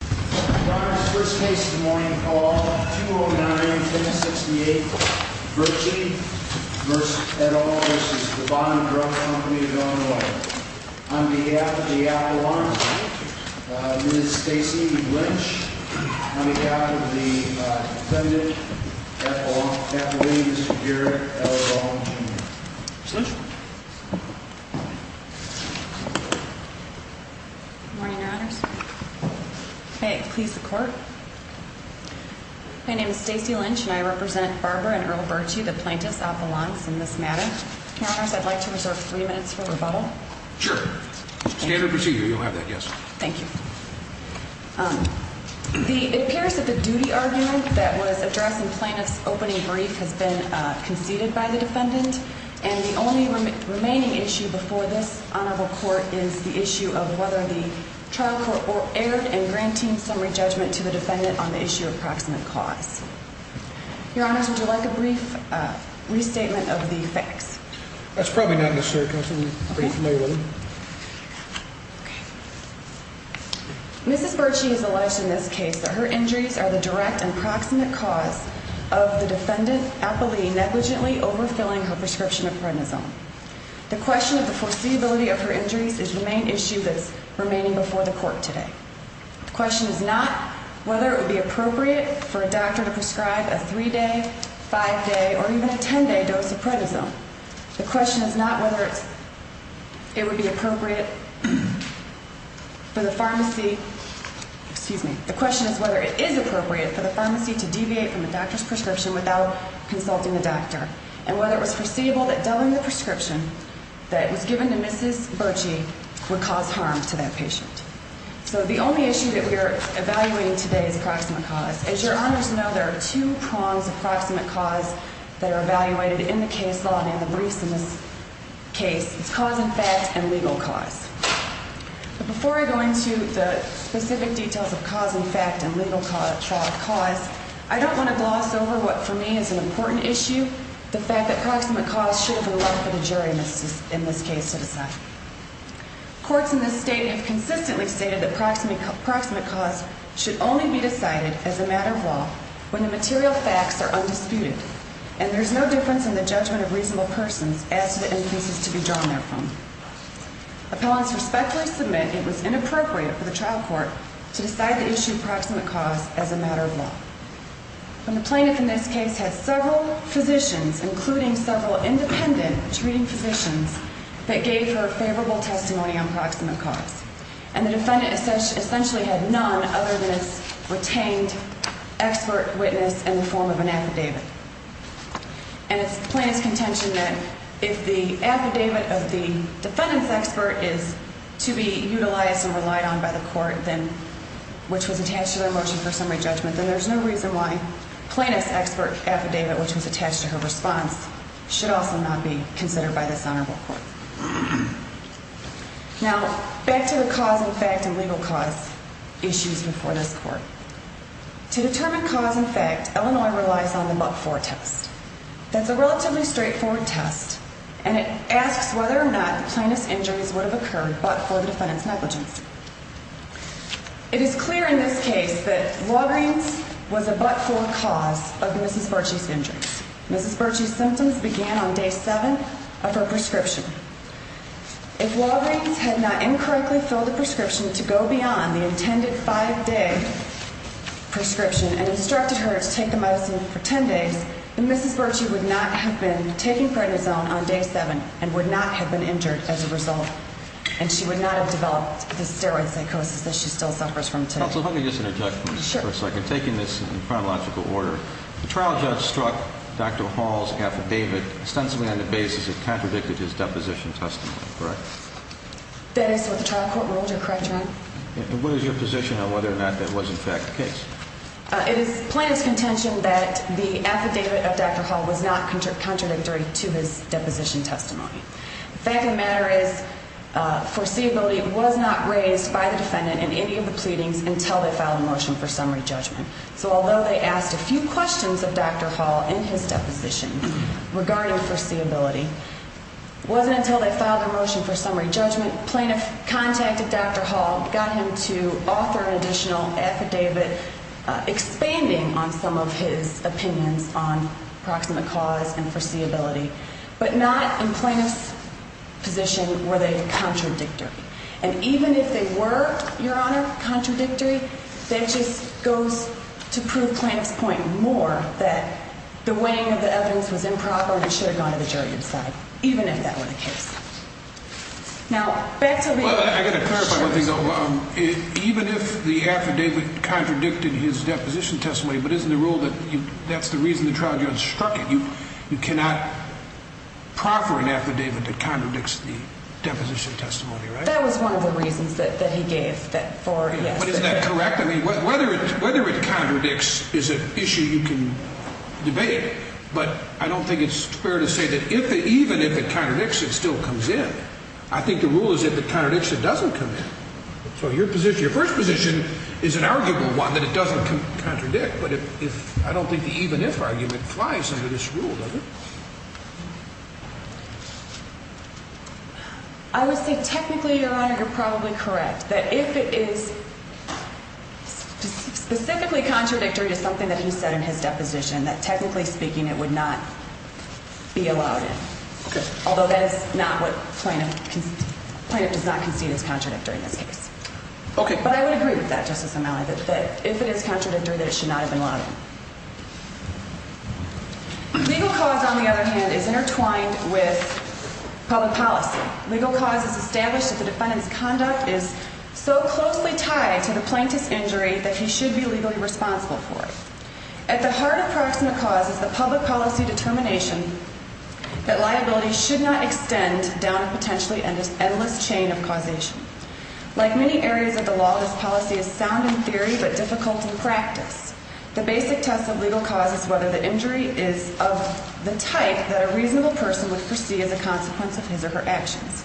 Your honors, first case of the morning, call 209-1068, Virgie v. Bond Drug Company of Illinois. On behalf of the Appalachians, Ms. Stacey Lynch. On behalf of the defendant, Appalachians, Mr. Garrett L. Long Jr. Ms. Lynch. Good morning, your honors. May it please the court? My name is Stacey Lynch and I represent Barbara and Earl Burtsche, the plaintiffs Appalachians in this matter. Your honors, I'd like to reserve three minutes for rebuttal. Sure. Standard procedure, you'll have that, yes. Thank you. It appears that the duty argument that was addressed in plaintiff's opening brief has been conceded by the defendant. And the only remaining issue before this honorable court is the issue of whether the trial court erred in granting summary judgment to the defendant on the issue of proximate cause. Your honors, would you like a brief restatement of the facts? That's probably not necessary, because I'm pretty familiar with them. Okay. Mrs. Burtsche has alleged in this case that her injuries are the direct and proximate cause of the defendant, Appalachian, negligently overfilling her prescription of prednisone. The question of the foreseeability of her injuries is the main issue that's remaining before the court today. The question is not whether it would be appropriate for a doctor to prescribe a three-day, five-day, or even a ten-day dose of prednisone. The question is not whether it would be appropriate for the pharmacy, excuse me, the question is whether it is appropriate for the pharmacy to deviate from the doctor's prescription without consulting the doctor, and whether it was foreseeable that doubling the prescription that was given to Mrs. Burtsche would cause harm to that patient. So the only issue that we are evaluating today is proximate cause. As your honors know, there are two prongs of proximate cause that are evaluated in the case law, and in the briefs in this case, it's cause in fact and legal cause. But before I go into the specific details of cause in fact and legal cause, I don't want to gloss over what for me is an important issue, the fact that proximate cause should have allowed for the jury in this case to decide. Courts in this state have consistently stated that proximate cause should only be decided as a matter of law when the material facts are undisputed, and there's no difference in the judgment of reasonable persons as to the inferences to be drawn therefrom. Appellants respectfully submit it was inappropriate for the trial court to decide the issue of proximate cause as a matter of law. When the plaintiff in this case had several physicians, including several independent treating physicians, that gave her favorable testimony on proximate cause, and the defendant essentially had none other than its retained expert witness in the form of an affidavit. And it's the plaintiff's contention that if the affidavit of the defendant's expert is to be utilized and relied on by the court, which was attached to their motion for summary judgment, then there's no reason why plaintiff's expert affidavit, which was attached to her response, should also not be considered by this honorable court. Now, back to the cause in fact and legal cause issues before this court. To determine cause in fact, Illinois relies on the but-for test. That's a relatively straightforward test, and it asks whether or not the plaintiff's injuries would have occurred but for the defendant's negligence. It is clear in this case that Walgreens was a but-for cause of Mrs. Burchie's injuries. Mrs. Burchie's symptoms began on day seven of her prescription. If Walgreens had not incorrectly filled the prescription to go beyond the intended five-day prescription and instructed her to take the medicine for ten days, then Mrs. Burchie would not have been taking prednisone on day seven and would not have been injured as a result, and she would not have developed the steroid psychosis that she still suffers from today. Counsel, let me just interject for a second. Sure. Taking this in chronological order, the trial judge struck Dr. Hall's affidavit extensively on the basis it contradicted his deposition testimony, correct? And what is your position on whether or not that was in fact the case? It is plaintiff's contention that the affidavit of Dr. Hall was not contradictory to his deposition testimony. The fact of the matter is foreseeability was not raised by the defendant in any of the pleadings until they filed a motion for summary judgment. So although they asked a few questions of Dr. Hall in his deposition regarding foreseeability, it wasn't until they filed a motion for summary judgment, plaintiff contacted Dr. Hall, got him to offer an additional affidavit expanding on some of his opinions on proximate cause and foreseeability, but not in plaintiff's position were they contradictory. And even if they were, Your Honor, contradictory, that just goes to prove plaintiff's point more that the weighing of the evidence was improper and should have gone to the jury to decide, even if that were the case. Now, back to the... Well, I've got to clarify one thing, though. Even if the affidavit contradicted his deposition testimony, but isn't the rule that that's the reason the trial judge struck it? You cannot proffer an affidavit that contradicts the deposition testimony, right? That was one of the reasons that he gave that for, yes. But isn't that correct? I mean, whether it contradicts is an issue you can debate, but I don't think it's fair to say that even if it contradicts, it still comes in. I think the rule is if it contradicts, it doesn't come in. So your position, your first position is an arguable one, that it doesn't contradict, but I don't think the even-if argument flies under this rule, does it? I would say technically, Your Honor, you're probably correct, that if it is specifically contradictory to something that he said in his deposition, that technically speaking, it would not be allowed in, although that is not what plaintiff does not concede is contradictory in this case. Okay. But I would agree with that, Justice O'Malley, that if it is contradictory, that it should not have been allowed in. Legal cause, on the other hand, is intertwined with public policy. Legal cause is established that the defendant's conduct is so closely tied to the plaintiff's injury that he should be legally responsible for it. At the heart of proximate cause is the public policy determination that liability should not extend down a potentially endless chain of causation. Like many areas of the law, this policy is sound in theory but difficult in practice. The basic test of legal cause is whether the injury is of the type that a reasonable person would foresee as a consequence of his or her actions.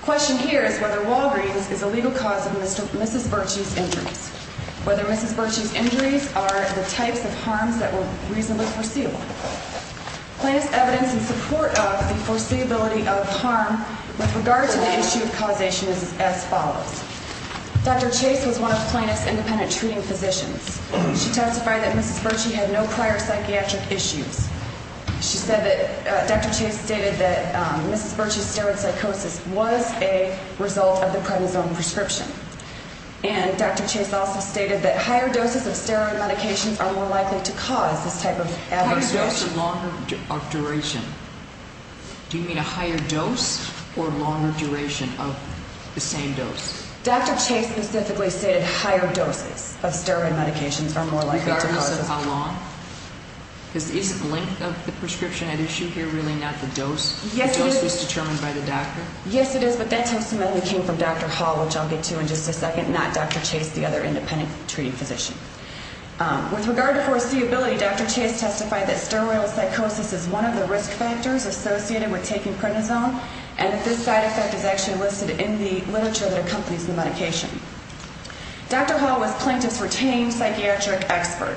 The question here is whether Walgreens is a legal cause of Mrs. Virtue's injuries, whether Mrs. Virtue's injuries are the types of harms that were reasonably foreseeable. Plaintiff's evidence in support of the foreseeability of harm with regard to the issue of causation is as follows. Dr. Chase was one of the plaintiff's independent treating physicians. She testified that Mrs. Virtue had no prior psychiatric issues. She said that Dr. Chase stated that Mrs. Virtue's steroid psychosis was a result of the prednisone prescription. And Dr. Chase also stated that higher doses of steroid medications are more likely to cause this type of adverse reaction. Higher dose or longer duration? Do you mean a higher dose or longer duration of the same dose? Dr. Chase specifically stated higher doses of steroid medications are more likely to cause this. Regardless of how long? Is the length of the prescription at issue here really not the dose? Yes, it is. The dose is determined by the doctor? Yes, it is, but that testimony came from Dr. Hall, which I'll get to in just a second, not Dr. Chase, the other independent treating physician. With regard to foreseeability, Dr. Chase testified that steroid psychosis is one of the risk factors associated with taking prednisone and that this side effect is actually listed in the literature that accompanies the medication. Dr. Hall was plaintiff's retained psychiatric expert.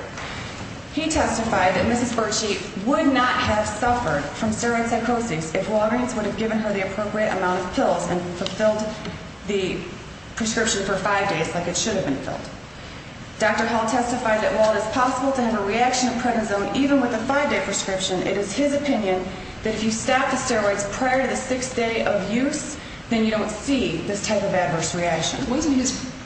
He testified that Mrs. Virtue would not have suffered from steroid psychosis if Walgreens would have given her the appropriate amount of pills and fulfilled the prescription for five days like it should have been filled. Dr. Hall testified that while it is possible to have a reaction of prednisone even with a five-day prescription, it is his opinion that if you stop the steroids prior to the sixth day of use, then you don't see this type of adverse reaction. Wasn't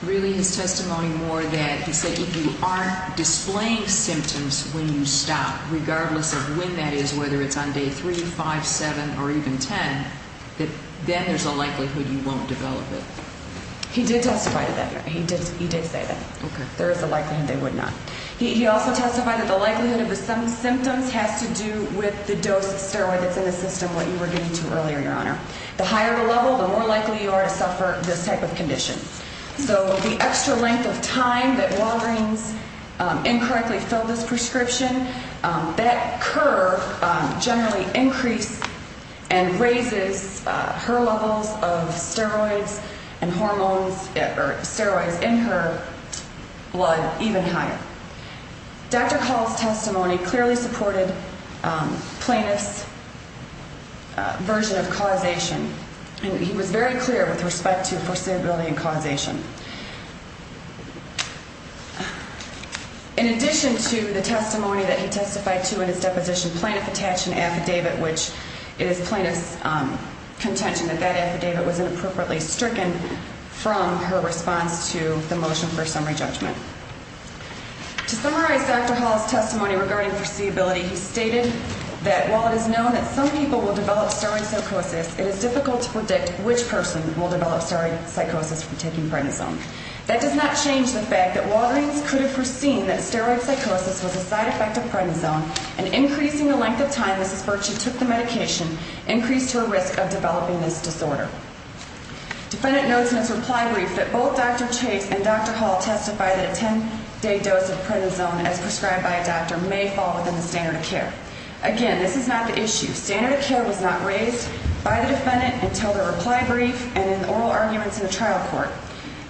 really his testimony more that he said if you aren't displaying symptoms when you stop, regardless of when that is, whether it's on day three, five, seven, or even ten, that then there's a likelihood you won't develop it? He did testify to that. He did say that. Okay. There is a likelihood they would not. He also testified that the likelihood of the symptoms has to do with the dose of steroid that's in the system, what you were getting to earlier, Your Honor. The higher the level, the more likely you are to suffer this type of condition. So the extra length of time that Walgreens incorrectly filled this prescription, that curve generally increased and raises her levels of steroids and hormones or steroids in her blood even higher. Dr. Hall's testimony clearly supported plaintiff's version of causation, and he was very clear with respect to foreseeability and causation. In addition to the testimony that he testified to in his deposition, plaintiff attached an affidavit, which it is plaintiff's contention that that affidavit was inappropriately stricken from her response to the motion for summary judgment. To summarize Dr. Hall's testimony regarding foreseeability, he stated that while it is known that some people will develop steroid psychosis, it is difficult to predict which person will develop steroid psychosis from taking prednisone. That does not change the fact that Walgreens could have foreseen that steroid psychosis was a side effect of prednisone, and increasing the length of time Mrs. Burchett took the medication increased her risk of developing this disorder. Defendant notes in his reply brief that both Dr. Chase and Dr. Hall testified that a 10-day dose of prednisone as prescribed by a doctor may fall within the standard of care. Again, this is not the issue. Standard of care was not raised by the defendant until the reply brief and in the oral arguments in the trial court.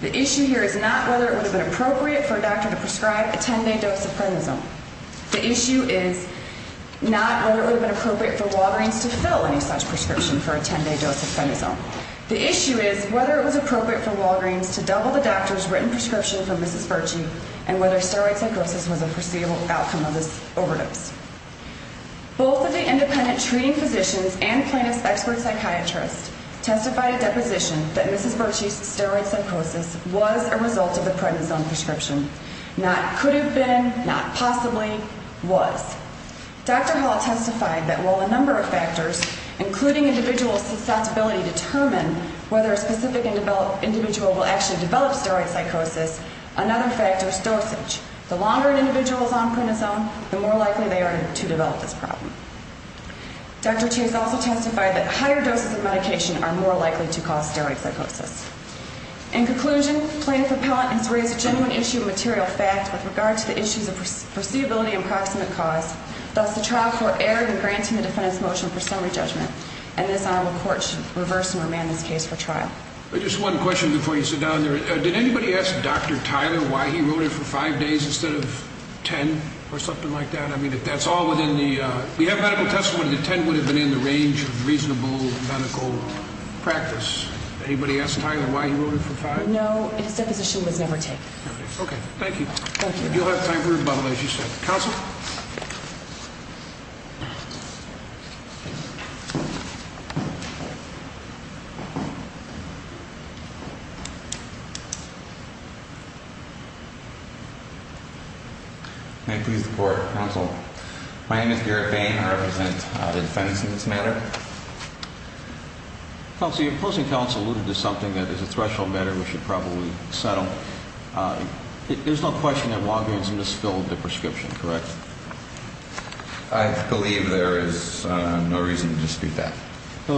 The issue here is not whether it would have been appropriate for a doctor to prescribe a 10-day dose of prednisone. The issue is not whether it would have been appropriate for Walgreens to fill any such prescription for a 10-day dose of prednisone. The issue is whether it was appropriate for Walgreens to double the doctor's written prescription for Mrs. Burchett and whether steroid psychosis was a foreseeable outcome of this overdose. Both of the independent treating physicians and plaintiff's expert psychiatrist testified at deposition that Mrs. Burchett's steroid psychosis was a result of the prednisone prescription. Not could have been, not possibly, was. Dr. Hall testified that while a number of factors, including individual susceptibility, determine whether a specific individual will actually develop steroid psychosis, another factor is dosage. The longer an individual is on prednisone, the more likely they are to develop this problem. Dr. T has also testified that higher doses of medication are more likely to cause steroid psychosis. In conclusion, plaintiff appellant has raised a genuine issue of material fact with regard to the issues of foreseeability and proximate cause. Thus, the trial court erred in granting the defendant's motion for summary judgment, and this honorable court should reverse and remand this case for trial. Just one question before you sit down there. Did anybody ask Dr. Tyler why he wrote it for five days instead of ten or something like that? I mean, if that's all within the, if you have medical testimony, the ten would have been in the range of reasonable medical practice. Anybody ask Tyler why he wrote it for five? No, his deposition was never taken. Okay, thank you. Thank you. You'll have time for rebuttal, as you said. Counsel? May I please report, counsel? My name is Garrett Bain. I represent the defense in this matter. Counsel, your opposing counsel alluded to something that is a threshold matter we should probably settle. There's no question that Walgreens misfilled the prescription, correct? I believe there is no reason to dispute that. The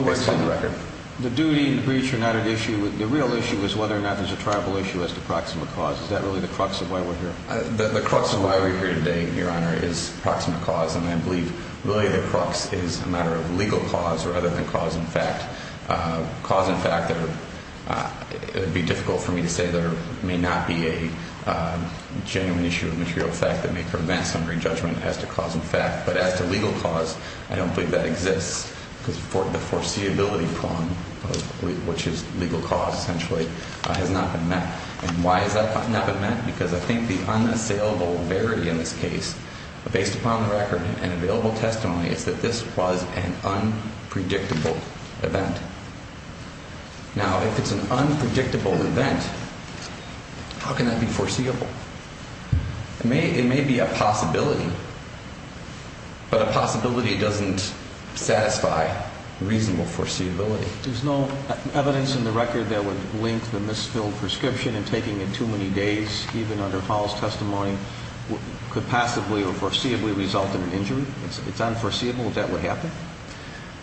real issue is whether or not there's a tribal issue as to proximate cause. Is that really the crux of why we're here? The crux of why we're here today, Your Honor, is proximate cause, and I believe really the crux is a matter of legal cause rather than cause in fact. Cause in fact, it would be difficult for me to say there may not be a genuine issue of material fact that may prevent summary judgment as to cause in fact, but as to legal cause, I don't believe that exists because the foreseeability prong, which is legal cause essentially, has not been met. And why has that not been met? Because I think the unassailable verity in this case, based upon the record and available testimony, is that this was an unpredictable event. Now, if it's an unpredictable event, how can that be foreseeable? It may be a possibility, but a possibility doesn't satisfy reasonable foreseeability. There's no evidence in the record that would link the misfilled prescription in taking it too many days, even under false testimony, could passively or foreseeably result in an injury? It's unforeseeable that that would happen?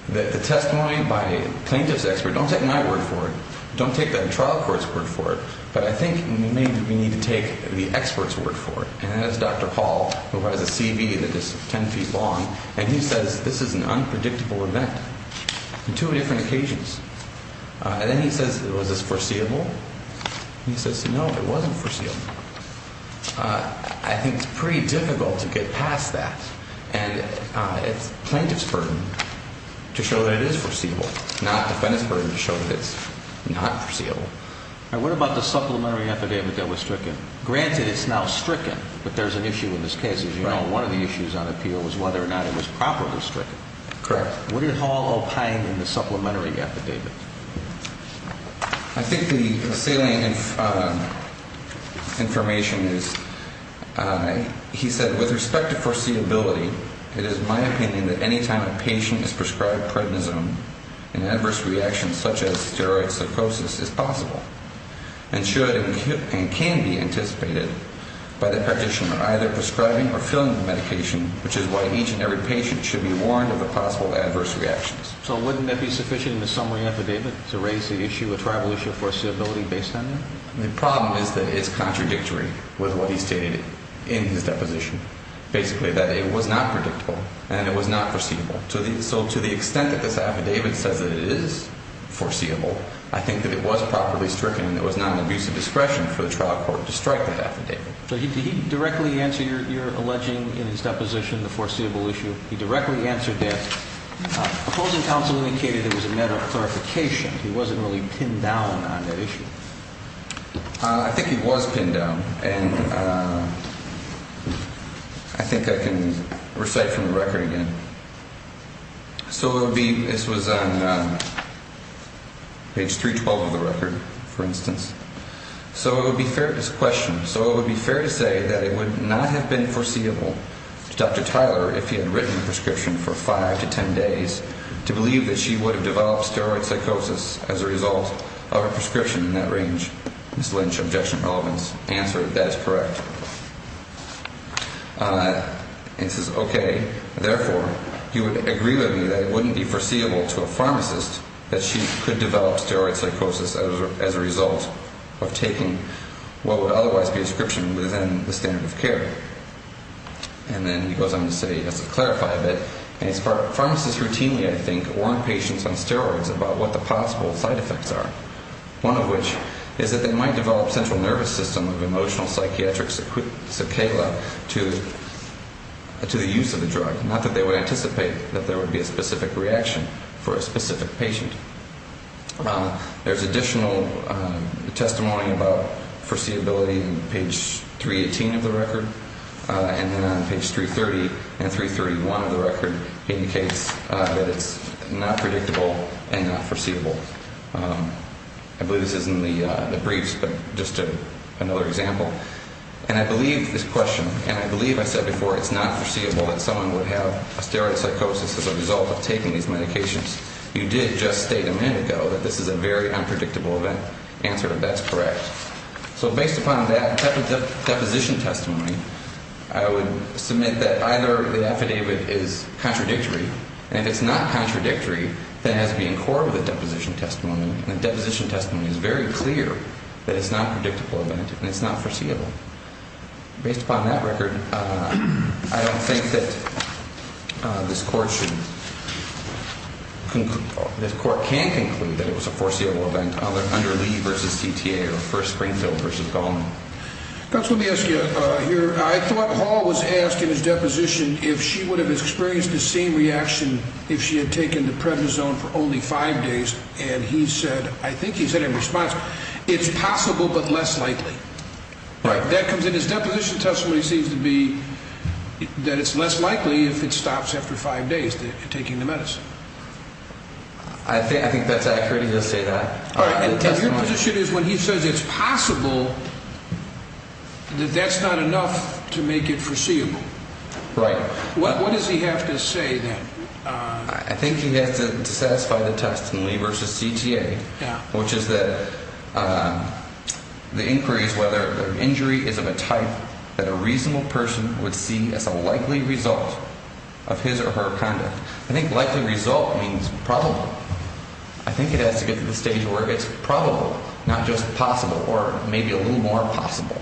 The testimony by a plaintiff's expert, don't take my word for it, don't take the trial court's word for it, but I think maybe we need to take the expert's word for it. And that is Dr. Paul, who has a CV that is 10 feet long, and he says this is an unpredictable event on two different occasions. And then he says, was this foreseeable? And he says, no, it wasn't foreseeable. I think it's pretty difficult to get past that. And it's plaintiff's burden to show that it is foreseeable, not defendant's burden to show that it's not foreseeable. And what about the supplementary affidavit that was stricken? Granted, it's now stricken, but there's an issue in this case. As you know, one of the issues on appeal was whether or not it was properly stricken. Correct. Would it all opine in the supplementary affidavit? I think the salient information is, he said, with respect to foreseeability, it is my opinion that any time a patient is prescribed prednisone, an adverse reaction such as steroid psychosis is possible and should and can be anticipated by the practitioner either prescribing or filling the medication, which is why each and every patient should be warned of the possible adverse reactions. So wouldn't that be sufficient in the summary affidavit to raise the issue, a tribal issue, of foreseeability based on that? The problem is that it's contradictory with what he stated in his deposition. Basically, that it was not predictable and it was not foreseeable. So to the extent that this affidavit says that it is foreseeable, I think that it was properly stricken and it was not an abuse of discretion for the trial court to strike that affidavit. So did he directly answer your alleging in his deposition the foreseeable issue? He directly answered that. Opposing counsel indicated it was a matter of clarification. He wasn't really pinned down on that issue. I think he was pinned down, and I think I can recite from the record again. So this was on page 312 of the record, for instance. So it would be fair to say that it would not have been foreseeable to Dr. Tyler if he had written the prescription for 5 to 10 days to believe that she would have developed steroid psychosis as a result of a prescription in that range. Ms. Lynch, objection, relevance. Answered, that is correct. And says, okay, therefore, you would agree with me that it wouldn't be foreseeable to a pharmacist that she could develop steroid psychosis as a result of taking what would otherwise be a prescription within the standard of care. And then he goes on to say, just to clarify a bit, pharmacists routinely, I think, warn patients on steroids about what the possible side effects are, one of which is that they might develop central nervous system of emotional psychiatric cicada to the use of the drug, not that they would anticipate that there would be a specific reaction for a specific patient. There's additional testimony about foreseeability on page 318 of the record, and then on page 330 and 331 of the record indicates that it's not predictable and not foreseeable. I believe this is in the briefs, but just another example. And I believe this question, and I believe I said before it's not foreseeable that someone would have a steroid psychosis as a result of taking these medications. You did just state a minute ago that this is a very unpredictable event. Answered, that's correct. So based upon that deposition testimony, I would submit that either the affidavit is contradictory, and if it's not contradictory, then it has to be in accord with the deposition testimony, and the deposition testimony is very clear that it's not a predictable event and it's not foreseeable. Based upon that record, I don't think that this court should conclude, this court can't conclude that it was a foreseeable event under Lee v. CTA or First Springfield v. Goldman. Counsel, let me ask you here. I thought Hall was asked in his deposition if she would have experienced the same reaction if she had taken the prednisone for only five days, and he said, I think he said in response, it's possible but less likely. Right. That comes in his deposition testimony seems to be that it's less likely if it stops after five days, taking the medicine. I think that's accurate, he does say that. And your position is when he says it's possible, that that's not enough to make it foreseeable. Right. What does he have to say then? I think he has to satisfy the test in Lee v. CTA, which is that the inquiry is whether the injury is of a type that a reasonable person would see as a likely result of his or her conduct. I think likely result means probable. I think it has to get to the stage where it's probable, not just possible, or maybe a little more possible.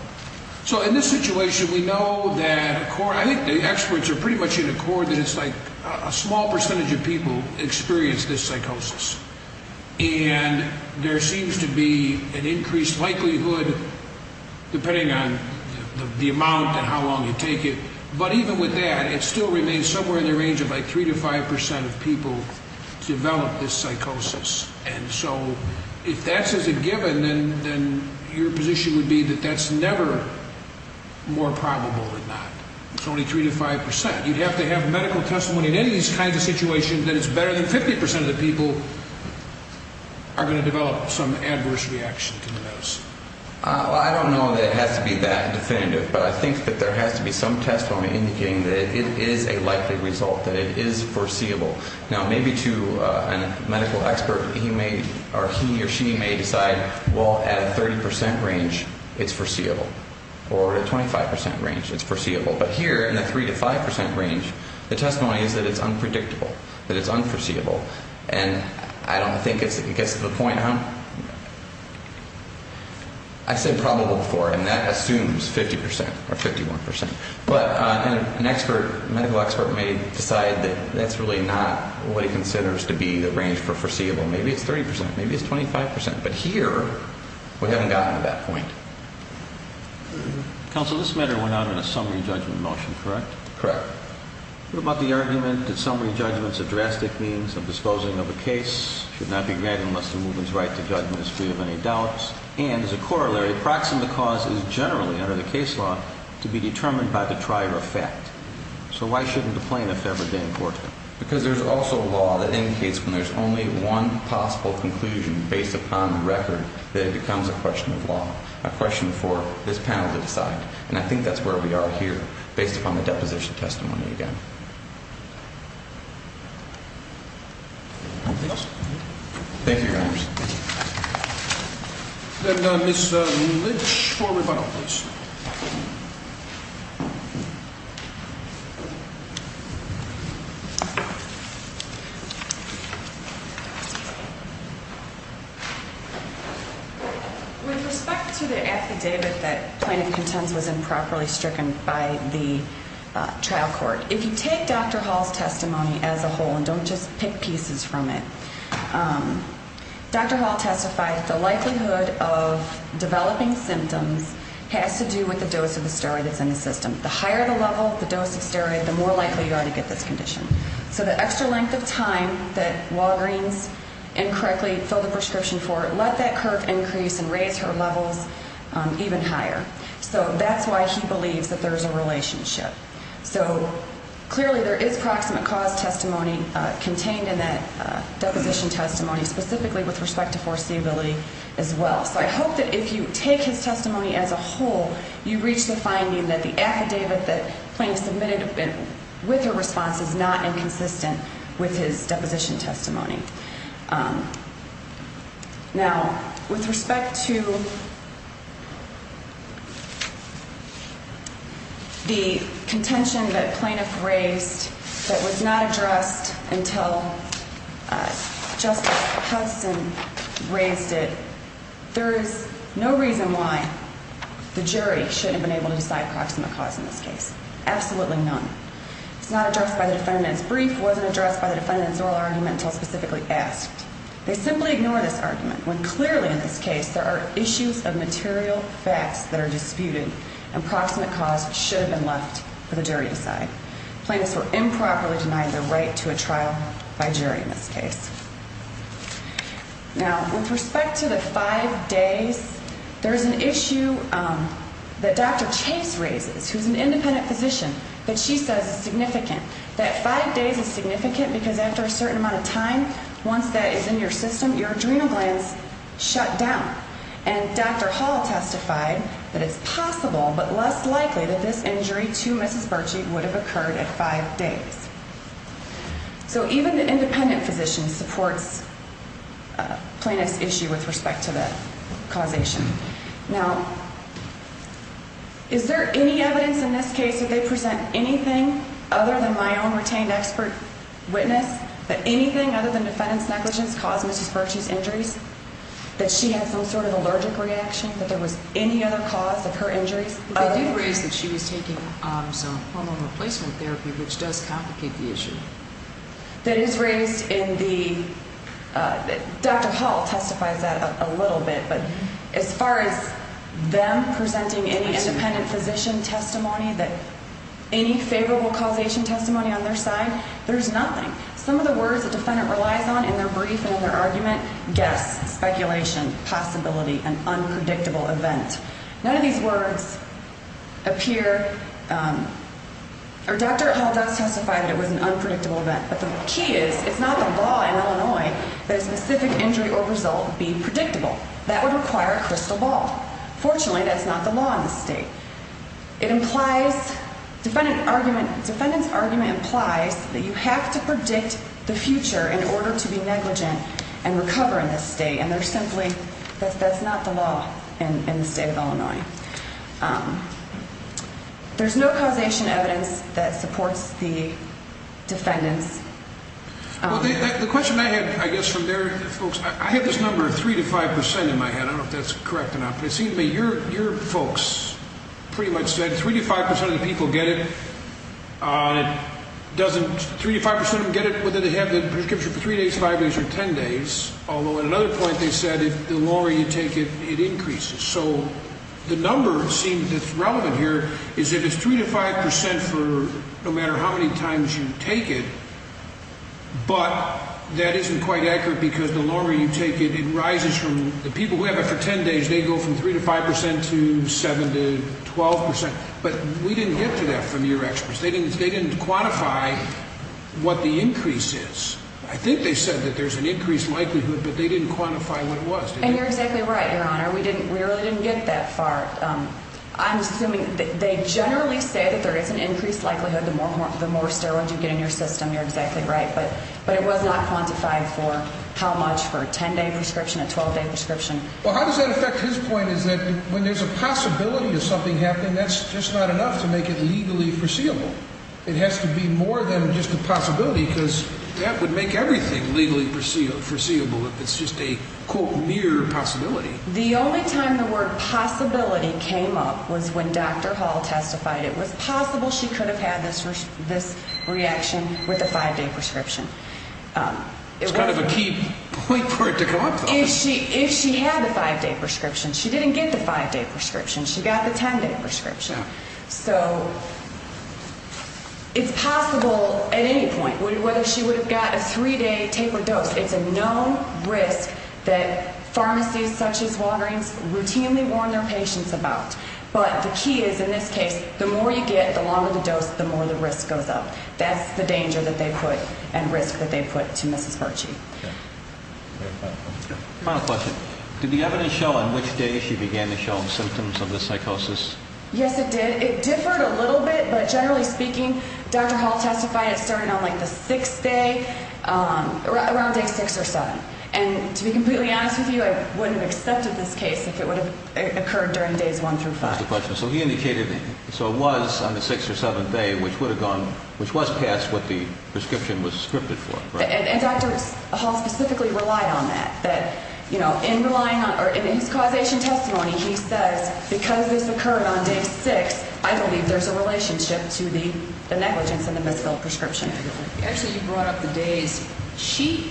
So in this situation, we know that a core, I think the experts are pretty much in accord that it's like a small percentage of people experience this psychosis. And there seems to be an increased likelihood, depending on the amount and how long you take it, but even with that, it still remains somewhere in the range of like 3 to 5 percent of people develop this psychosis. And so if that's as a given, then your position would be that that's never more probable than not. It's only 3 to 5 percent. You'd have to have medical testimony in any of these kinds of situations that it's better than 50 percent of the people are going to develop some adverse reaction to the medicine. I don't know that it has to be that definitive, but I think that there has to be some testimony indicating that it is a likely result, that it is foreseeable. Now, maybe to a medical expert, he or she may decide, well, at a 30 percent range, it's foreseeable, or at a 25 percent range, it's foreseeable. But here, in the 3 to 5 percent range, the testimony is that it's unpredictable, that it's unforeseeable. And I don't think it gets to the point. I said probable before, and that assumes 50 percent or 51 percent. But an expert, medical expert, may decide that that's really not what he considers to be the range for foreseeable. Maybe it's 30 percent. Maybe it's 25 percent. But here, we haven't gotten to that point. Counsel, this matter went out in a summary judgment motion, correct? Correct. What about the argument that summary judgment is a drastic means of disposing of a case, should not be granted unless the movement's right to judgment is free of any doubts, and as a corollary, the proximate cause is generally, under the case law, to be determined by the trier of fact. So why shouldn't the plaintiff ever gain court? Because there's also law that indicates when there's only one possible conclusion based upon the record that it becomes a question of law, a question for this panel to decide. And I think that's where we are here, based upon the deposition testimony again. Thank you, Your Honors. And Ms. Lynch for rebuttal, please. With respect to the affidavit that plaintiff contends was improperly stricken by the trial court, if you take Dr. Hall's testimony as a whole, and don't just pick pieces from it, Dr. Hall testified that the likelihood of developing symptoms has to do with the dose of the steroid that's in the system. The higher the level, the dose of steroid, the more likely you are to get this condition. So the extra length of time that Walgreens incorrectly filled the prescription for, let that curve increase and raise her levels even higher. So that's why he believes that there's a relationship. So clearly there is proximate cause testimony contained in that deposition testimony, specifically with respect to foreseeability as well. So I hope that if you take his testimony as a whole, you reach the finding that the affidavit that plaintiff submitted with her response is not inconsistent with his deposition testimony. Now, with respect to the contention that plaintiff raised that was not addressed until Justice Hudson raised it, there is no reason why the jury shouldn't have been able to decide proximate cause in this case. Absolutely none. It's not addressed by the defendant's brief. It wasn't addressed by the defendant's oral argument until specifically asked. They simply ignore this argument when clearly in this case there are issues of material facts that are disputed and proximate cause should have been left for the jury to decide. Plaintiffs were improperly denied their right to a trial by jury in this case. Now, with respect to the five days, there's an issue that Dr. Chase raises, who's an independent physician, that she says is significant. That five days is significant because after a certain amount of time, once that is in your system, your adrenal glands shut down. And Dr. Hall testified that it's possible but less likely that this injury to Mrs. Burchie would have occurred at five days. So even the independent physician supports plaintiff's issue with respect to that causation. Now, is there any evidence in this case that they present anything other than my own retained expert witness, that anything other than defendant's negligence caused Mrs. Burchie's injuries, that she had some sort of allergic reaction, that there was any other cause of her injuries? They did raise that she was taking some hormone replacement therapy, which does complicate the issue. That is raised in the – Dr. Hall testifies that a little bit, but as far as them presenting any independent physician testimony, any favorable causation testimony on their side, there's nothing. Some of the words the defendant relies on in their brief and in their argument, guess, speculation, possibility, an unpredictable event. None of these words appear – or Dr. Hall does testify that it was an unpredictable event, but the key is it's not the law in Illinois that a specific injury or result be predictable. That would require a crystal ball. Fortunately, that's not the law in this state. It implies – defendant's argument implies that you have to predict the future in order to be negligent and recover in this state, and there's simply – that's not the law in the state of Illinois. There's no causation evidence that supports the defendants. Well, the question I had, I guess, from their folks, I had this number of 3 to 5 percent in my head. I don't know if that's correct or not, but it seemed to me your folks pretty much said 3 to 5 percent of the people get it. It doesn't – 3 to 5 percent of them get it whether they have the prescription for 3 days, 5 days, or 10 days, although at another point they said the longer you take it, it increases. So the number seemed – that's relevant here is that it's 3 to 5 percent for no matter how many times you take it, but that isn't quite accurate because the longer you take it, it rises from – the people who have it for 10 days, they go from 3 to 5 percent to 7 to 12 percent, but we didn't get to that from your experts. They didn't quantify what the increase is. I think they said that there's an increased likelihood, but they didn't quantify what it was. And you're exactly right, Your Honor. We really didn't get that far. I'm assuming – they generally say that there is an increased likelihood the more steroids you get in your system. You're exactly right, but it was not quantified for how much for a 10-day prescription, a 12-day prescription. Well, how does that affect his point is that when there's a possibility of something happening, that's just not enough to make it legally foreseeable. It has to be more than just a possibility because that would make everything legally foreseeable if it's just a, quote, mere possibility. The only time the word possibility came up was when Dr. Hall testified it was possible she could have had this reaction with a 5-day prescription. It's kind of a key point for it to come up, though. If she had the 5-day prescription, she didn't get the 5-day prescription. She got the 10-day prescription. So it's possible at any point whether she would have got a 3-day tapered dose. It's a known risk that pharmacies such as Walgreens routinely warn their patients about. But the key is, in this case, the more you get, the longer the dose, the more the risk goes up. That's the danger that they put and risk that they put to Mrs. Hershey. Final question. Did the evidence show on which day she began to show symptoms of the psychosis? Yes, it did. It differed a little bit, but generally speaking, Dr. Hall testified it started on, like, the 6th day, around day 6 or 7. And to be completely honest with you, I wouldn't have accepted this case if it would have occurred during days 1 through 5. So he indicated it was on the 6th or 7th day, which was past what the prescription was scripted for. And Dr. Hall specifically relied on that. In his causation testimony, he says, because this occurred on day 6, I believe there's a relationship to the negligence in the misfilled prescription. Actually, you brought up the days. She,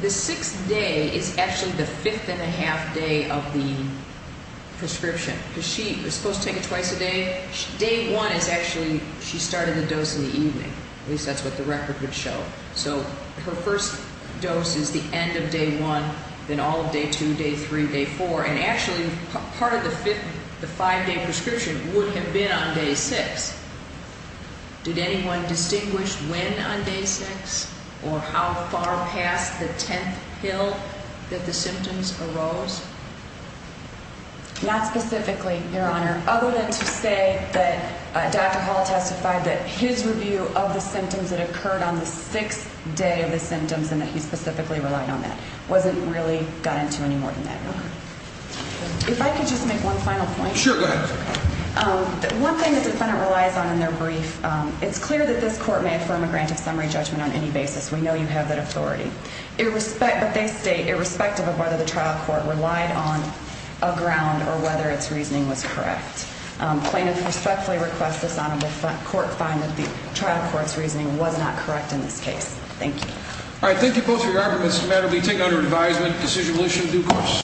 the 6th day is actually the fifth and a half day of the prescription. Because she was supposed to take it twice a day. Day 1 is actually, she started the dose in the evening. At least that's what the record would show. So her first dose is the end of day 1, then all of day 2, day 3, day 4. And actually, part of the 5-day prescription would have been on day 6. Did anyone distinguish when on day 6 or how far past the 10th pill that the symptoms arose? Not specifically, Your Honor. Other than to say that Dr. Hall testified that his review of the symptoms that occurred on the 6th day of the symptoms and that he specifically relied on that wasn't really got into any more than that, Your Honor. If I could just make one final point. Sure, go ahead. One thing the defendant relies on in their brief, it's clear that this court may affirm a grant of summary judgment on any basis. We know you have that authority. But they state irrespective of whether the trial court relied on a ground or whether its reasoning was correct. Plaintiffs respectfully request this Honorable Court find that the trial court's reasoning was not correct in this case. Thank you. All right, thank you both for your arguments. The matter will be taken under advisement. Decision will issue in due course.